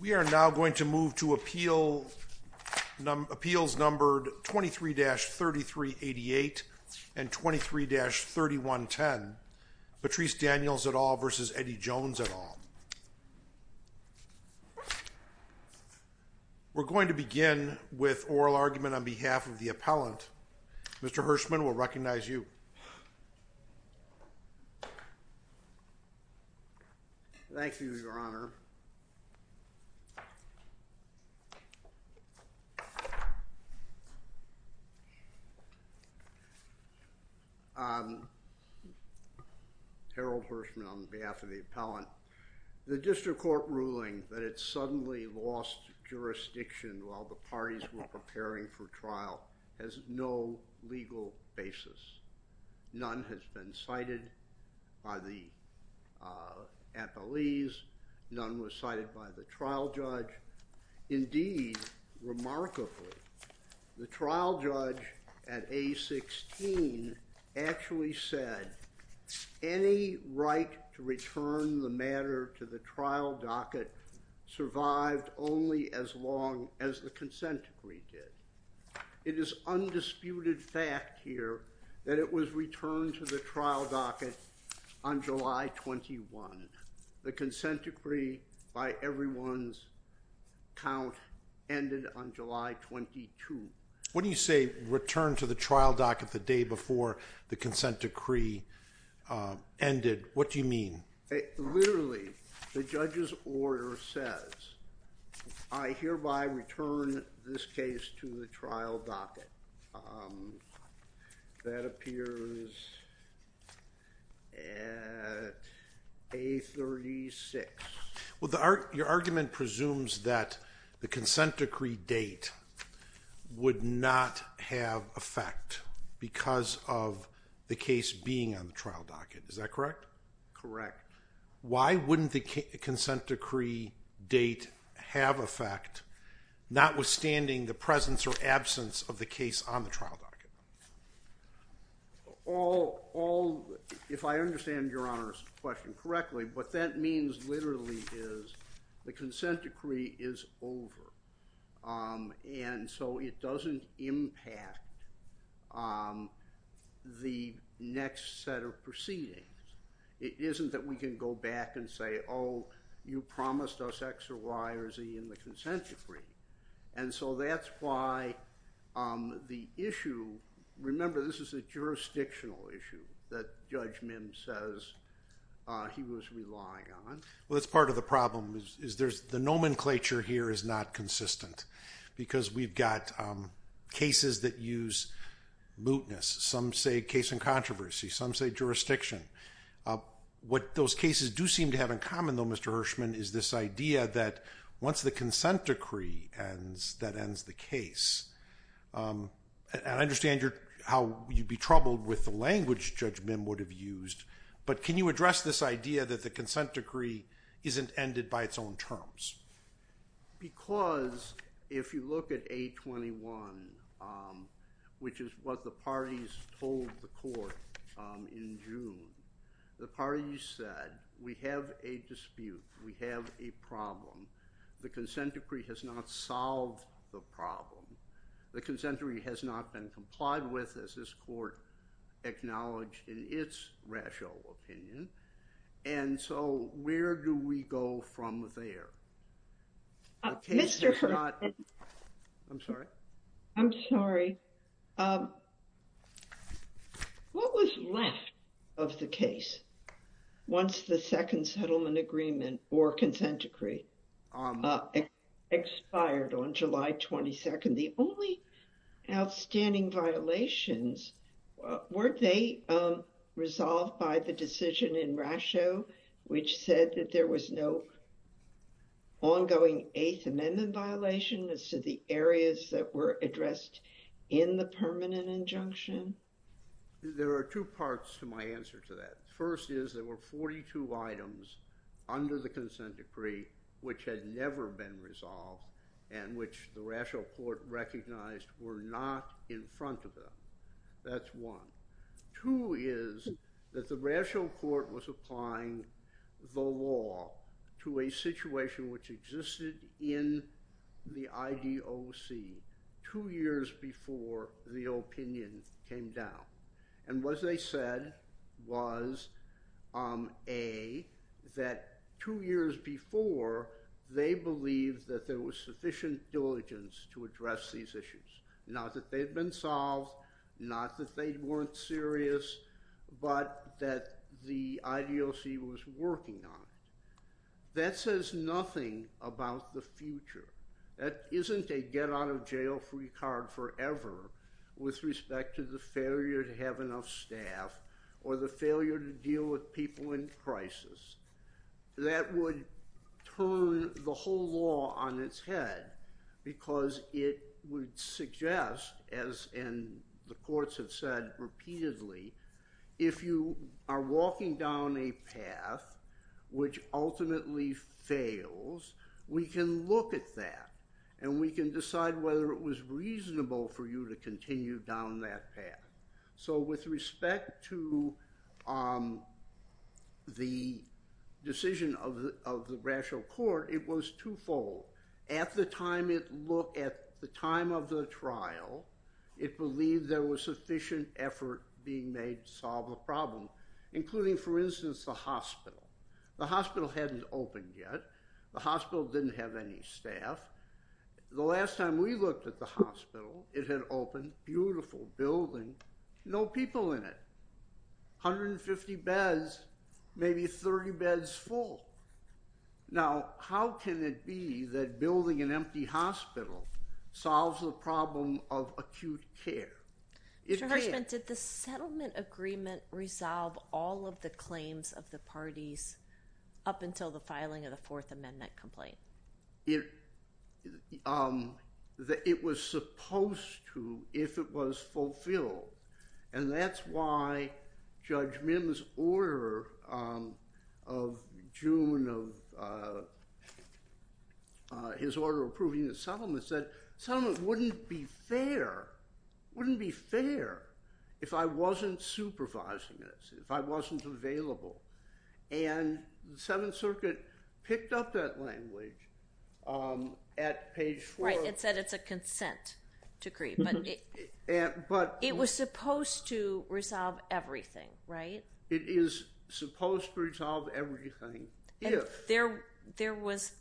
We are now going to move to appeals numbered 23-3388 and 23-3110, Patrice Daniels et al. v. Eddie Jones et al. We are going to begin with oral argument on behalf of the appellant. Mr. Hirschman will recognize you. Thank you, Your Honor. Harold Hirschman on behalf of the appellant. The district court ruling that it suddenly lost jurisdiction while the parties were preparing for trial has no legal basis. None has been cited by the appellees. None was cited by the trial judge. Indeed, remarkably, the trial judge at A-16 actually said any right to return the matter to the trial docket survived only as long as the consent decree did. It is undisputed fact here that it was returned to the trial docket on July 21. The consent decree, by everyone's count, ended on July 22. What do you say, returned to the trial docket the day before the consent decree ended? What do you mean? Literally, the judge's order says, I hereby return this case to the trial docket. That appears at A-36. Your argument presumes that the consent decree date would not have effect because of the case being on the trial docket. Is that correct? Correct. Why wouldn't the consent decree date have effect, notwithstanding the presence or absence of the case on the trial docket? If I understand your Honor's question correctly, what that means literally is the consent decree is over. It doesn't impact the next set of proceedings. It isn't that we can go back and say, oh, you promised us X or Y or Z in the consent decree. That's why the issue, remember, this is a jurisdictional issue that Judge Mims says he was relying on. That's part of the problem. The nomenclature here is not consistent because we've got cases that use mootness. Some say case in controversy. Some say jurisdiction. What those cases do seem to have in common, though, Mr. Hirschman, is this idea that once the consent decree ends, that ends the case. I understand how you'd be troubled with the language Judge Mims would have used, but can you address this idea that the consent decree isn't ended by its own terms? Because if you look at 821, which is what the parties told the court in June, the parties said, we have a dispute. We have a problem. The consent decree has not solved the problem. The consent decree has not been complied with, as this court acknowledged in its rational opinion. And so where do we go from there? Mr. Hirschman. I'm sorry. I'm sorry. What was left of the case once the second settlement agreement or consent decree expired on July 22nd? The only outstanding violations, weren't they resolved by the decision in Rasho, which said that there was no ongoing Eighth Amendment violation as to the areas that were addressed in the permanent injunction? There are two parts to my answer to that. First is there were 42 items under the consent decree which had never been resolved and which the Rasho court recognized were not in front of them. That's one. Two is that the Rasho court was applying the law to a situation which existed in the IDOC two years before the opinion came down. And what they said was, A, that two years before, they believed that there was sufficient diligence to address these issues. Not that they'd been solved, not that they weren't serious, but that the IDOC was working on it. That says nothing about the future. That isn't a get a jail-free card forever with respect to the failure to have enough staff or the failure to deal with people in crisis. That would turn the whole law on its head because it would suggest, as the courts have said repeatedly, if you are walking down a path which ultimately fails, we can look at that and we can decide whether it was reasonable for you to continue down that path. So with respect to the decision of the Rasho court, it was twofold. At the time it looked, at the time of the trial, it believed there was sufficient effort being made to solve the problem, including, for instance, the hospital. The hospital hadn't opened yet. The hospital didn't have any staff. The last time we looked at the hospital, it had opened, beautiful building, no people in it. 150 beds, maybe 30 beds full. Now, how can it be that building an empty hospital solves the problem of acute care? Judge Hartman, did the settlement agreement resolve all of the claims of the parties up until the filing of the Fourth Amendment complaint? It was supposed to if it was fulfilled, and that's why Judge Mims' order of June, his order approving the settlement, said settlement wouldn't be fair, wouldn't be fair if I wasn't supervising this, if I wasn't available. And the Seventh Circuit picked up that language at page four. Right, it said it's a consent decree, but it was supposed to resolve everything, right? It is supposed to resolve everything if. There was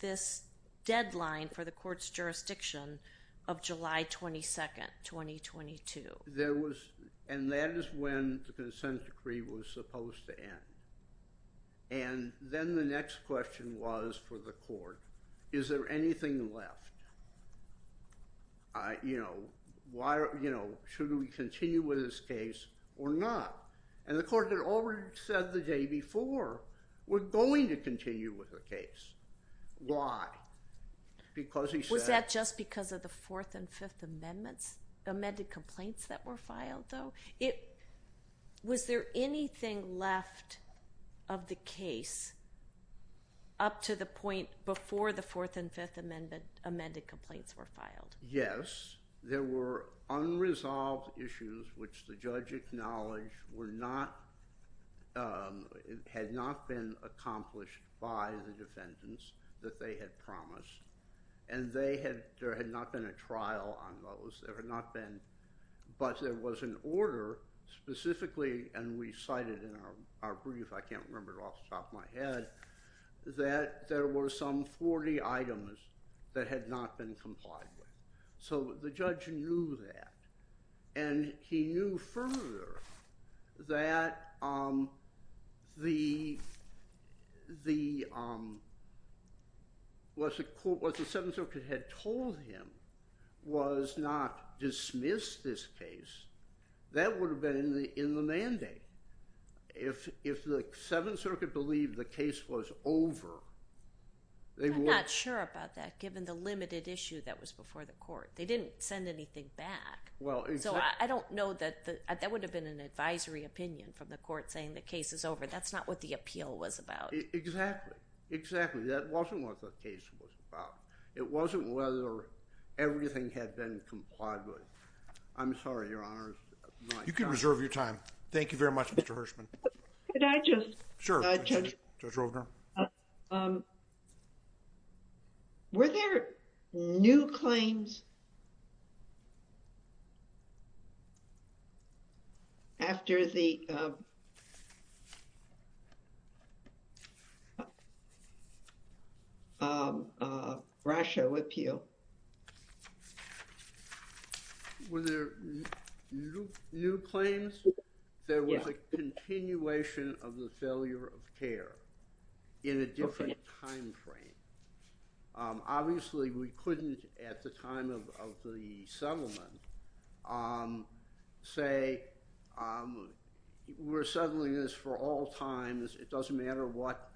this deadline for the court's jurisdiction of July 22nd, 2022. There was, and that is when the consent decree was supposed to end. And then the next question was for the court, is there anything left? You know, should we continue with this case or not? And the court had already said the day before, we're going to continue with the case. Why? Because he said. Was that just because of the Fourth and Fifth Amendments, the amended complaints that were filed though? Was there anything left of the case up to the point before the Fourth and Fifth Amendments, amended complaints were filed? Yes, there were unresolved issues which the judge acknowledged were not, had not been accomplished by the defendants that they had promised. And they had, there had not been a trial on those, there had not been, but there was an order specifically, and we cited in our brief, I can't remember it off the top of my head, that there were some 40 items that had not been complied with. So the judge knew that. And he knew further that the, what the Seventh Circuit had told him was not dismiss this case, that would have been in the mandate. If the Seventh Circuit believed the case was over, they would. I'm not sure about that, given the limited issue that was before the court. They didn't send anything back. So I don't know that, that would have been an advisory opinion from the court saying the case is over. That's not what the appeal was about. Exactly. Exactly. That wasn't what the case was about. It wasn't whether everything had been complied with. I'm sorry, Your Honors. You can reserve your time. Thank you very much, Mr. Hirshman. Could I just? Sure, Judge Rovner. Were there new claims after the Russia with you? Were there new claims? There was a continuation of the failure of care in a different time frame. Obviously, we couldn't, at the time of the settlement, say we're settling this for all times, it doesn't matter what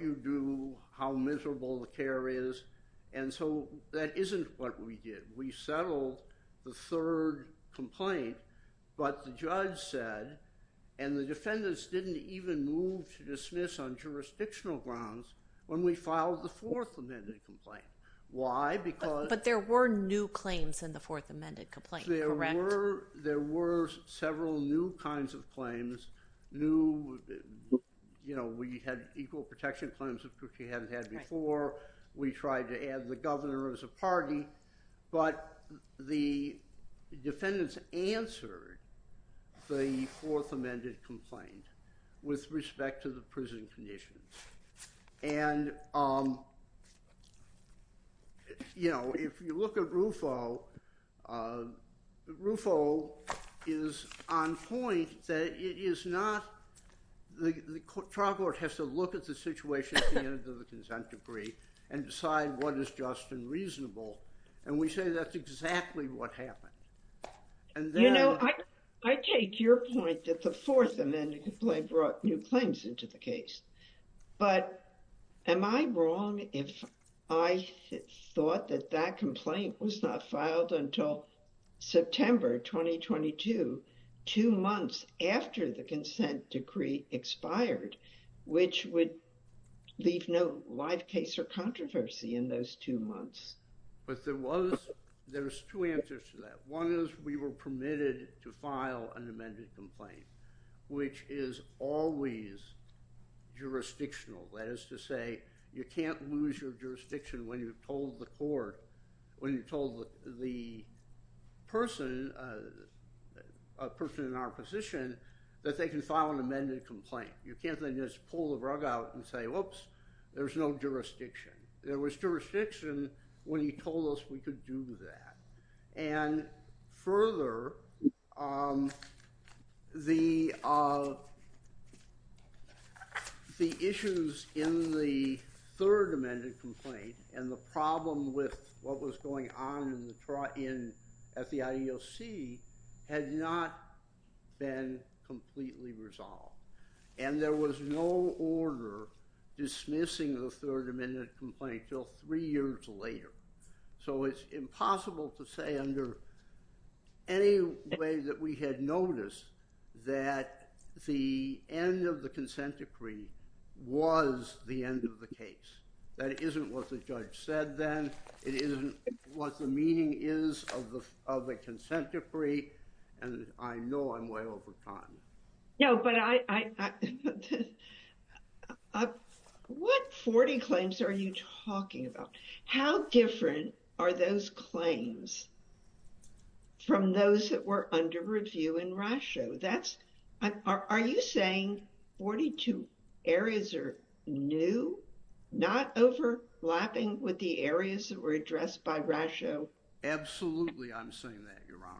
you do, how miserable the care is. And so that isn't what we did. We settled the third complaint, but the judge said, and the defendants didn't even move to dismiss on jurisdictional grounds when we filed the fourth amended complaint. Why? Because. But there were new claims in the fourth amended complaint, correct? There were several new kinds of claims, new, you know, we had equal protection claims which we hadn't had before. We tried to add the governor as a party, but the defendants answered the fourth amended complaint with respect to the prison conditions. And, you know, if you look at Rufo, Rufo is on point that it is not, the trial court has to look at the situation at the end of the consent decree and decide what is just and reasonable. And we say that's exactly what happened. And then. You know, I take your point that the fourth amended complaint brought new claims into the case. But am I wrong if I thought that that complaint was not filed until September 2022, two months after the consent decree expired, which would leave no live case or controversy in those two months? But there was, there's two answers to that. One is we were permitted to file an amended complaint, which is always jurisdictional. That is to say, you can't lose your jurisdiction when you've told the court, when you told the person, a person in our position, that they can file an amended complaint. You can't just pull the rug out and say, whoops, there's no jurisdiction. There was jurisdiction when he told us we could do that. And further, the issues in the third amended complaint and the problem with what was going on at the IEOC had not been completely resolved. And there was no order dismissing the third amended complaint until three years later. So it's impossible to say under any way that we had noticed that the end of the consent decree was the end of the case. That isn't what the judge said then. It isn't what the meaning is of the consent decree. And I know I'm way over time. No, but I, what 40 claims are you talking about? How different are those claims from those that were under review in RASHO? That's, are you saying 42 areas are new, not overlapping with the areas that were addressed by RASHO? Absolutely. I'm saying that, Your Honor.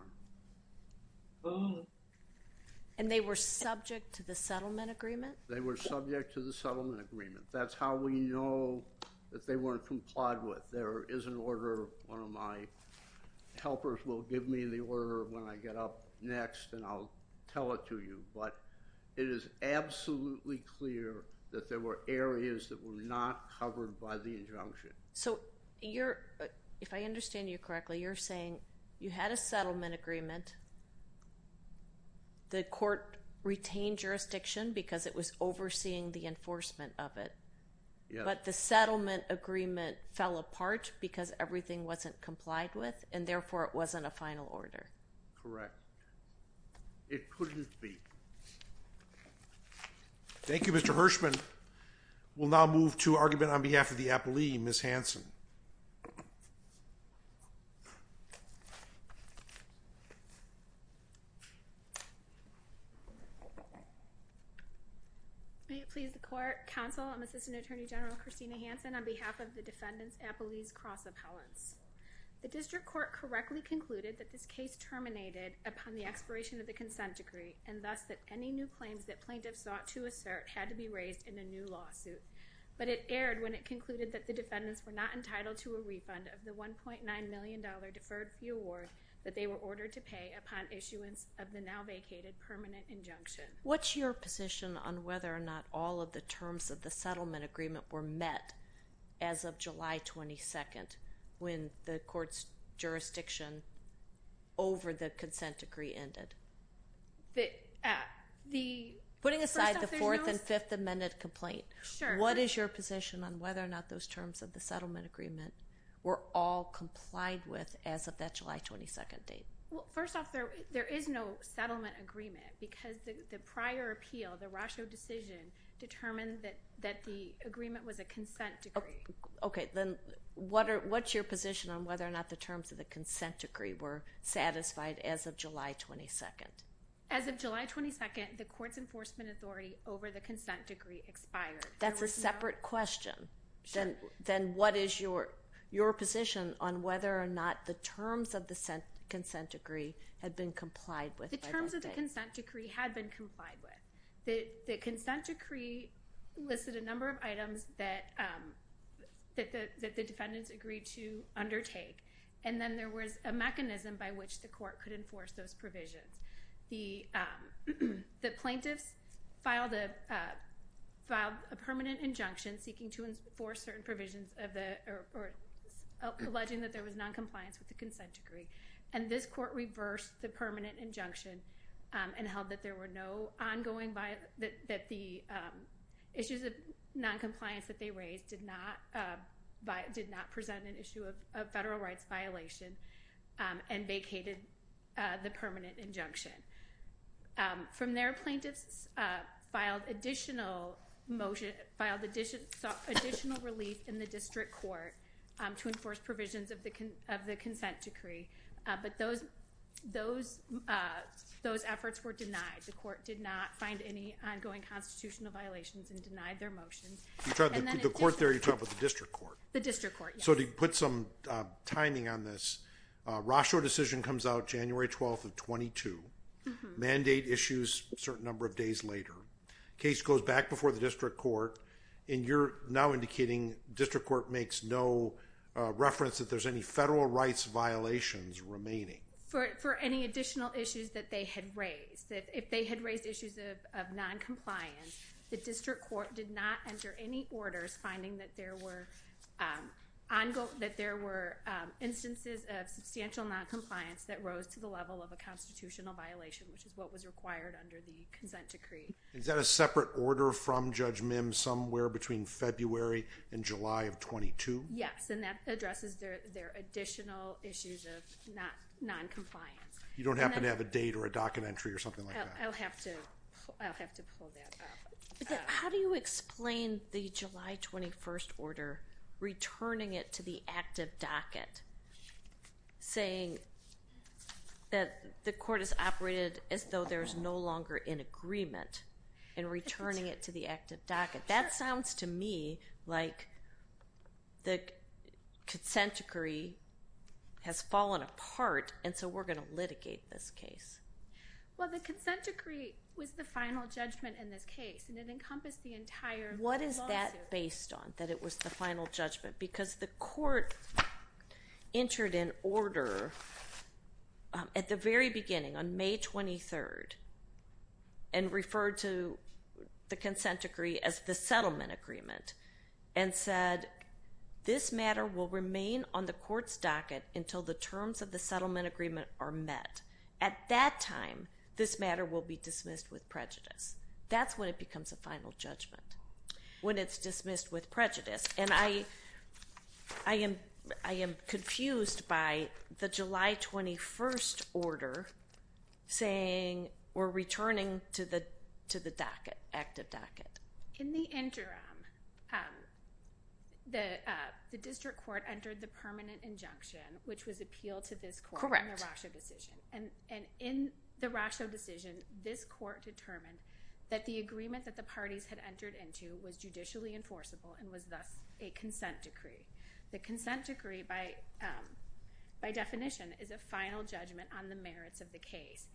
And they were subject to the settlement agreement? They were subject to the settlement agreement. That's how we know that they weren't complied with. There is an order, one of my helpers will give me the order when I get up next and I'll tell it to you. But it is absolutely clear that there were areas that were not covered by the injunction. So you're, if I understand you correctly, you're saying you had a settlement agreement, the court retained jurisdiction because it was overseeing the enforcement of it, but the settlement agreement fell apart because everything wasn't complied with and therefore it wasn't a final order. Correct. It couldn't be. Thank you, Mr. Hirshman. We'll now move to argument on behalf of the appellee, Ms. Hanson. May it please the court, counsel, I'm Assistant Attorney General Christina Hanson on behalf of the defendants, appellees, cross appellants. The district court correctly concluded that this case terminated upon the expiration of the consent decree and thus that any new claims that plaintiffs sought to assert had to be raised in a new lawsuit. But it erred when it concluded that the defendants were not entitled to a refund of the $1.9 million deferred fee award that they were ordered to pay upon issuance of the now vacated permanent injunction. What's your position on whether or not all of the terms of the settlement agreement were met as of July 22nd when the court's jurisdiction over the consent decree ended? Putting aside the 4th and 5th Amendment complaint, what is your position on whether or not those terms of the settlement agreement were all complied with as of that July 22nd date? First off, there is no settlement agreement because the prior appeal, the Rosho decision determined that the agreement was a consent decree. Okay, then what's your position on whether or not the terms of the consent decree were satisfied as of July 22nd? As of July 22nd, the court's enforcement authority over the consent decree expired. That's a separate question. Then what is your position on whether or not the terms of the consent decree had been complied with? The terms of the consent decree had been complied with. The consent decree listed a number of that the defendants agreed to undertake, and then there was a mechanism by which the court could enforce those provisions. The plaintiffs filed a permanent injunction seeking to enforce certain provisions or alleging that there was noncompliance with the consent decree, and this court reversed the permanent injunction and held that there were no ongoing, that the issues of noncompliance that they raised did not present an issue of federal rights violation and vacated the permanent injunction. From there, plaintiffs filed additional relief in the district court to enforce provisions of the consent decree, but those efforts were denied. The court did not find any ongoing constitutional violations and denied their motion. The court there, you're talking about the district court? The district court, yes. So to put some timing on this, Rochor decision comes out January 12th of 22, mandate issues a certain number of days later, case goes back before the district court, and you're now indicating district court makes no reference that there's any federal rights violations remaining? For any additional issues that they had raised, if they had raised issues of noncompliance, the district court did not enter any orders finding that there were instances of substantial noncompliance that rose to the level of a constitutional violation, which is what was required under the consent decree. Is that a separate order from Judge Mims somewhere between February and July of 22? Yes, and that addresses their additional issues of noncompliance. You don't happen to have a date or a docket entry or something like that? I'll have to pull that up. How do you explain the July 21st order returning it to the active docket saying that the court has operated as though there's no longer in agreement and returning it to the active docket? That sounds to me like the consent decree has fallen apart, and so we're going to litigate this case. Well, the consent decree was the final judgment in this case, and it encompassed the entire lawsuit. What is that based on, that it was the final judgment? Because the court entered an order at the very beginning on May 23rd and referred to the consent decree as the settlement agreement and said this matter will remain on the court's docket until the terms of the settlement agreement are met. At that time, this matter will be dismissed with prejudice. That's when it becomes a final judgment, when it's dismissed with prejudice, and I am confused by the July 21st order saying we're returning to the active docket. In the interim, the district court entered the permanent injunction, which was appealed to this court in the Rosho decision, and in the Rosho decision, this court determined that the agreement that the parties had entered into was judicially enforceable and was thus a consent decree. The consent decree, by definition, is a final judgment on the merits of the case.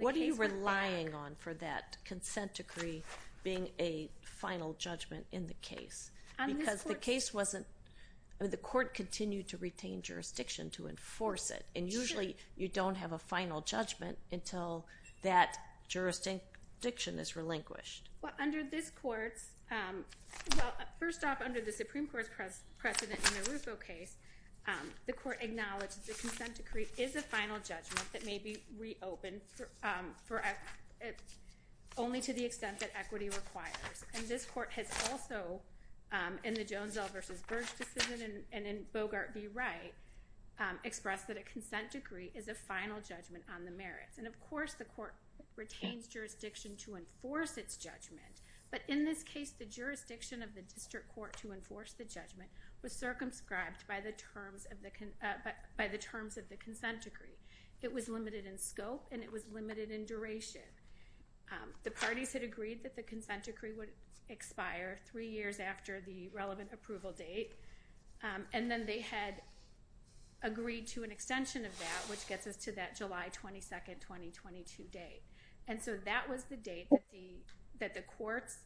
What are you relying on for that consent decree being a final judgment in the case? Because the court continued to retain jurisdiction to enforce it, and usually you don't have a final judgment until that jurisdiction is relinquished. Well, under this court's, well, first off, under the Supreme Court's precedent in the Rosho case, the court acknowledged the consent decree is a final judgment that may be reopened only to the extent that equity requires, and this court has also, in the Jonesell versus Burge decision and in Bogart v. Wright, expressed that a consent decree is a final judgment on the merits, and of course, the court retains jurisdiction to enforce its judgment, but in this case, the jurisdiction of the district court to enforce the judgment was circumscribed by the terms of the consent decree. It was limited in scope, and it was limited in duration. The parties had agreed that the consent decree would expire three years after the relevant approval date, and then they had agreed to an extension of that, which gets us to that July 22nd, 2022 date, and so that was the date that the courts,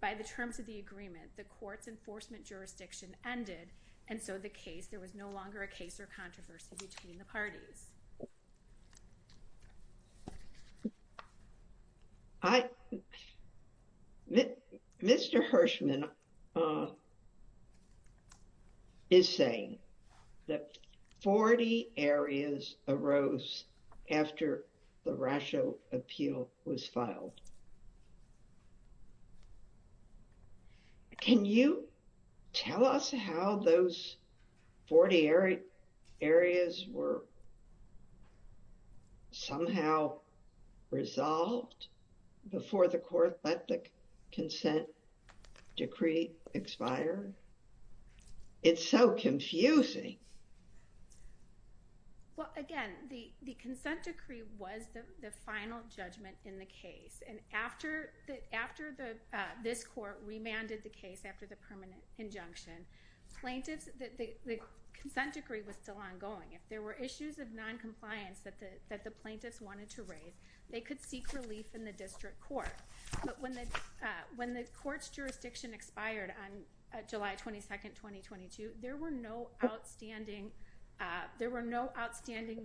by the terms of the agreement, the court's enforcement jurisdiction ended, and so the case, there was no longer a case or controversy between the parties. I, Mr. Hirschman is saying that 40 areas arose after the Rosho appeal was filed. Can you tell us how those 40 areas were somehow resolved before the court let the consent decree expire? It's so confusing. Well, again, the consent decree was the final judgment in the case, and after this court remanded the case after the permanent injunction, the consent decree was still ongoing. If there were issues of noncompliance that the plaintiffs wanted to raise, they could seek relief in the district court, but when the court's jurisdiction expired on July 22nd, 2022, there were no outstanding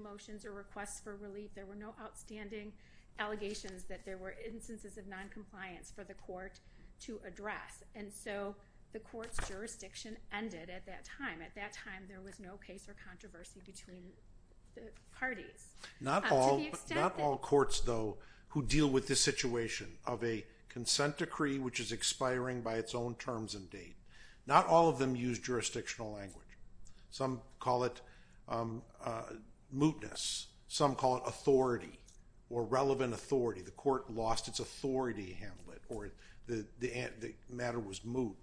motions or requests for relief. There were no outstanding allegations that there were of noncompliance for the court to address, and so the court's jurisdiction ended at that time. At that time, there was no case or controversy between the parties. Not all courts, though, who deal with this situation of a consent decree which is expiring by its own terms and date, not all of them use jurisdictional language. Some call it mootness. Some call it authority or relevant authority. The court lost its authority to handle it, or the matter was moot.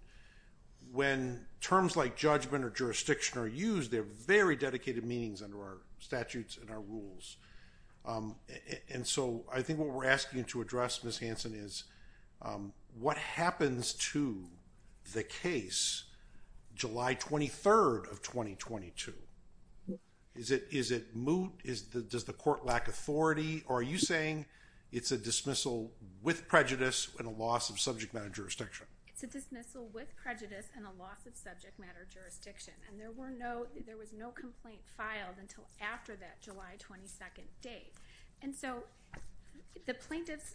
When terms like judgment or jurisdiction are used, they're very dedicated meanings under our statutes and our rules, and so I think what we're asking to address, Ms. Hanson, is what happens to the case July 23rd of 2022? Is it moot? Does the court lack authority, or are you saying it's a dismissal with prejudice and a loss of subject matter jurisdiction? It's a dismissal with prejudice and a loss of subject matter jurisdiction, and there was no complaint filed until after that July 22nd date, and so the plaintiffs,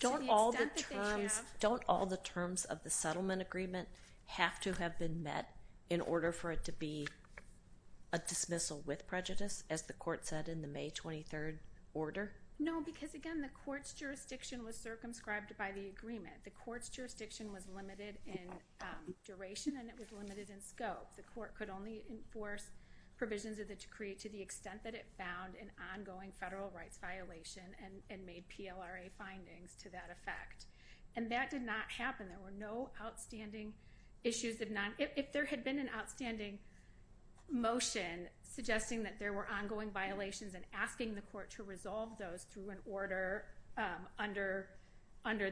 to the extent that they have— Don't all the terms of the settlement agreement have to have been met in order for it to be a dismissal with prejudice, as the court said in the May 23rd order? No, because, again, the court's jurisdiction was circumscribed by the agreement. The court's jurisdiction was limited in duration and it was limited in scope. The court could only enforce provisions of the decree to the extent that it found an ongoing federal rights violation and made PLRA findings to that effect, and that did happen. There were no outstanding issues. If there had been an outstanding motion suggesting that there were ongoing violations and asking the court to resolve those through an order under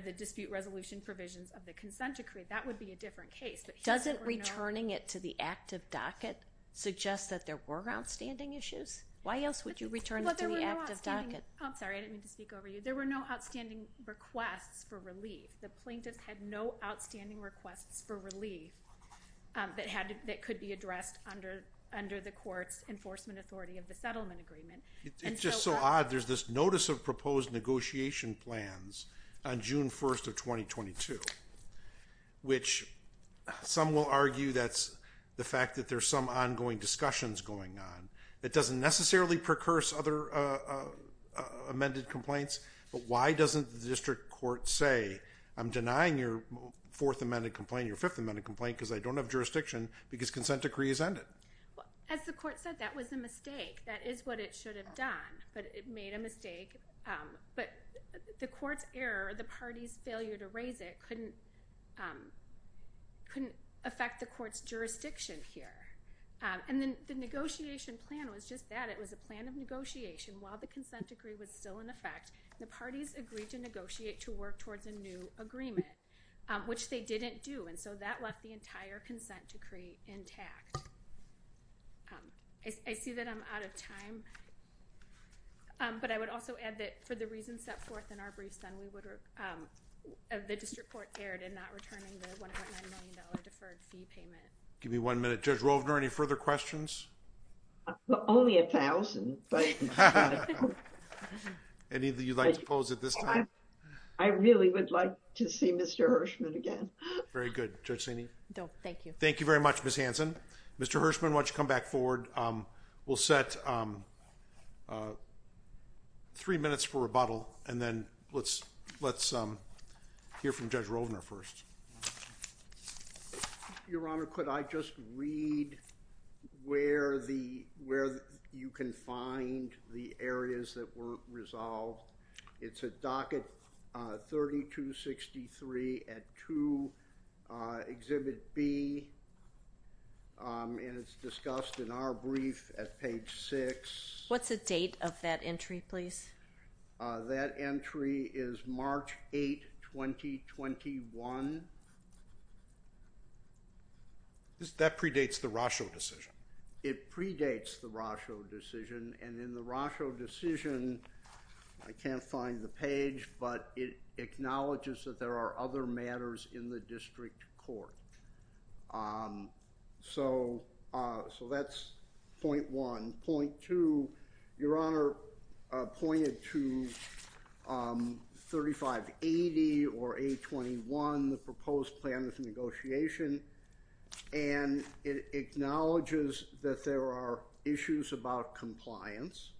the dispute resolution provisions of the consent decree, that would be a different case. Doesn't returning it to the active docket suggest that there were outstanding issues? Why else would you return it to the active docket? I'm sorry, I didn't mean to speak over you. There were no outstanding requests for relief. The plaintiffs had no outstanding requests for relief that could be addressed under the court's enforcement authority of the settlement agreement. It's just so odd. There's this notice of proposed negotiation plans on June 1st of 2022, which some will argue that's the fact that there's some ongoing discussions going on. It doesn't necessarily precurse other amended complaints, but why doesn't the district court say, I'm denying your fourth amended complaint, your fifth amended complaint because I don't have jurisdiction because consent decree is ended? As the court said, that was a mistake. That is what it should have done, but it made a mistake. But the court's error, the party's failure to raise it couldn't affect the court's jurisdiction here. The negotiation plan was just that. It was a plan of negotiation while the consent decree was still in effect. The parties agreed to negotiate to work towards a new agreement, which they didn't do, and so that left the entire consent decree intact. I see that I'm out of time, but I would also add that for the reasons set forth in our notice, the district court erred in not returning the $1.9 million deferred fee payment. Give me one minute. Judge Rovner, any further questions? Only a thousand. Any that you'd like to pose at this time? I really would like to see Mr. Hirschman again. Very good. Judge Saney? Thank you. Thank you very much, Ms. Hanson. Mr. Hirschman, why don't you come back forward. We'll set three minutes for rebuttal, and then let's hear from Judge Rovner first. Your Honor, could I just read where you can find the areas that were resolved? It's at docket 3263 at 2, Exhibit B, and it's discussed in our brief at page 6. What's the date of that entry, please? That entry is March 8, 2021. That predates the Rosho decision. It predates the Rosho decision, and in the Rosho decision, I can't find the page, but it acknowledges that there are other matters in the district court. So that's point one. Point two, Your Honor pointed to 3580 or 821, the proposed plan of negotiation, and it acknowledges that there are issues about compliance,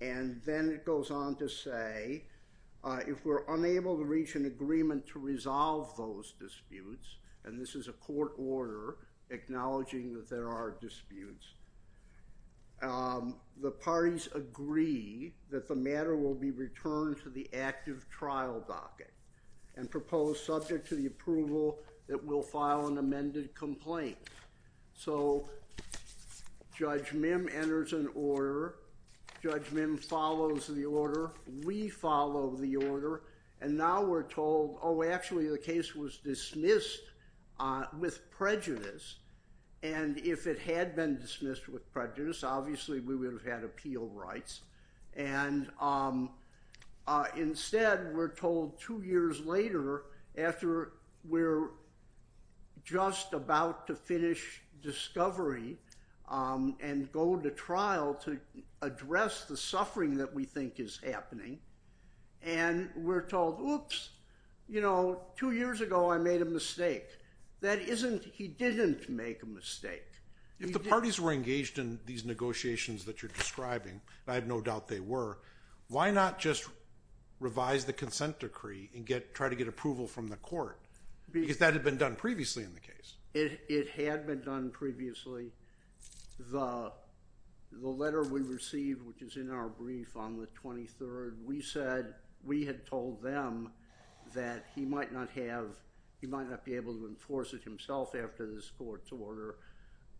and then it goes on to say, if we're unable to reach an agreement to resolve those disputes, and this is a court order acknowledging that there are disputes, the parties agree that the matter will be returned to the active trial docket and proposed subject to the approval that we'll file an amended complaint. So Judge Mim enters an order, Judge Mim follows the order, we follow the order, and now we're told, oh, actually, the case was dismissed with prejudice, and if it had been dismissed with prejudice, obviously, we would have had appeal rights, and instead, we're told two years later, after we're just about to finish discovery and go to trial to address the suffering that we think is happening, and we're told, oops, you know, two years ago, I made a mistake. That isn't, he didn't make a mistake. If the parties were engaged in these negotiations that you're describing, and I have no doubt they were, why not just revise the consent decree and try to get approval from the court? Because that had been done previously in the case. It had been done previously. The letter we received, which is in our brief on the 23rd, we said, we had told them that he might not have, he might not be able to enforce it himself after this court's order,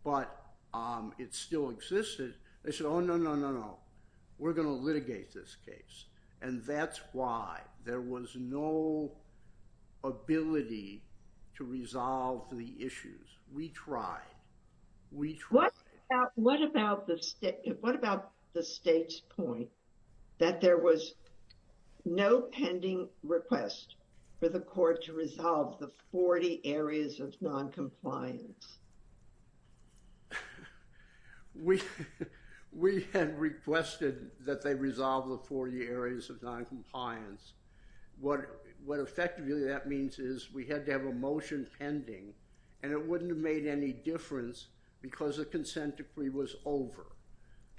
but it still existed. They said, oh, no, no, no, no. We're going to litigate this case, and that's why there was no ability to resolve the issues. We tried. We tried. What about the state's point that there was no pending request for the court to resolve the 40 areas of noncompliance? We had requested that they resolve the 40 areas of noncompliance. What effectively that means is we had to have a motion pending, and it wouldn't have made any difference because the consent decree was over.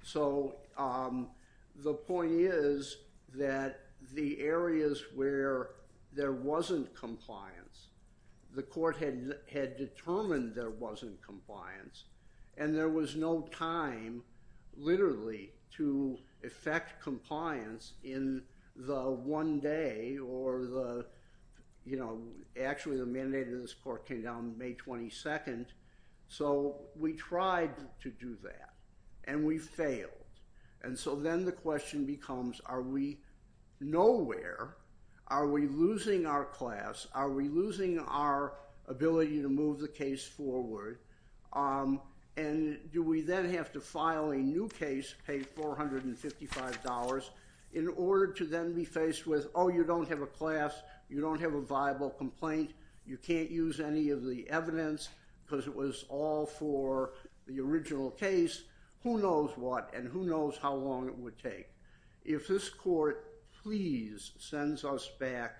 So the point is that the areas where there wasn't compliance, the court had determined there was, there wasn't compliance, and there was no time, literally, to effect compliance in the one day or the, you know, actually the mandate of this court came down May 22nd. So we tried to do that, and we failed. And so then the question becomes, are we nowhere? Are we losing our class? Are we losing our ability to move the case forward? And do we then have to file a new case, pay $455 in order to then be faced with, oh, you don't have a class. You don't have a viable complaint. You can't use any of the evidence because it was all for the original case. Who knows what, and who knows how long it would take. If this court please sends us back,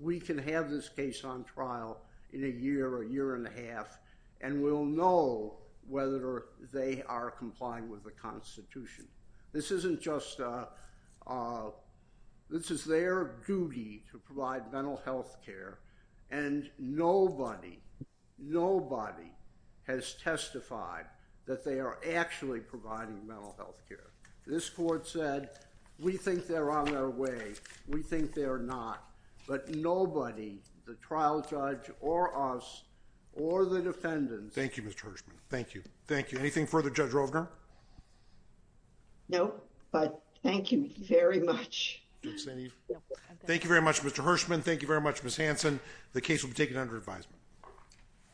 we can have this case on trial in a year, a year and a half, and we'll know whether they are complying with the Constitution. This isn't just, this is their duty to provide mental health care, and nobody, nobody has testified that they are actually providing mental health care. This court said, we think they're on their way. We think they're not, but nobody, the trial judge or us or the defendants. Thank you, Mr. Hirschman. Thank you. Thank you. Anything further, Judge Rovner? No, but thank you very much. Thank you very much, Mr. Hirschman. Thank you very much, Ms. Hanson. The case will be taken under advisement.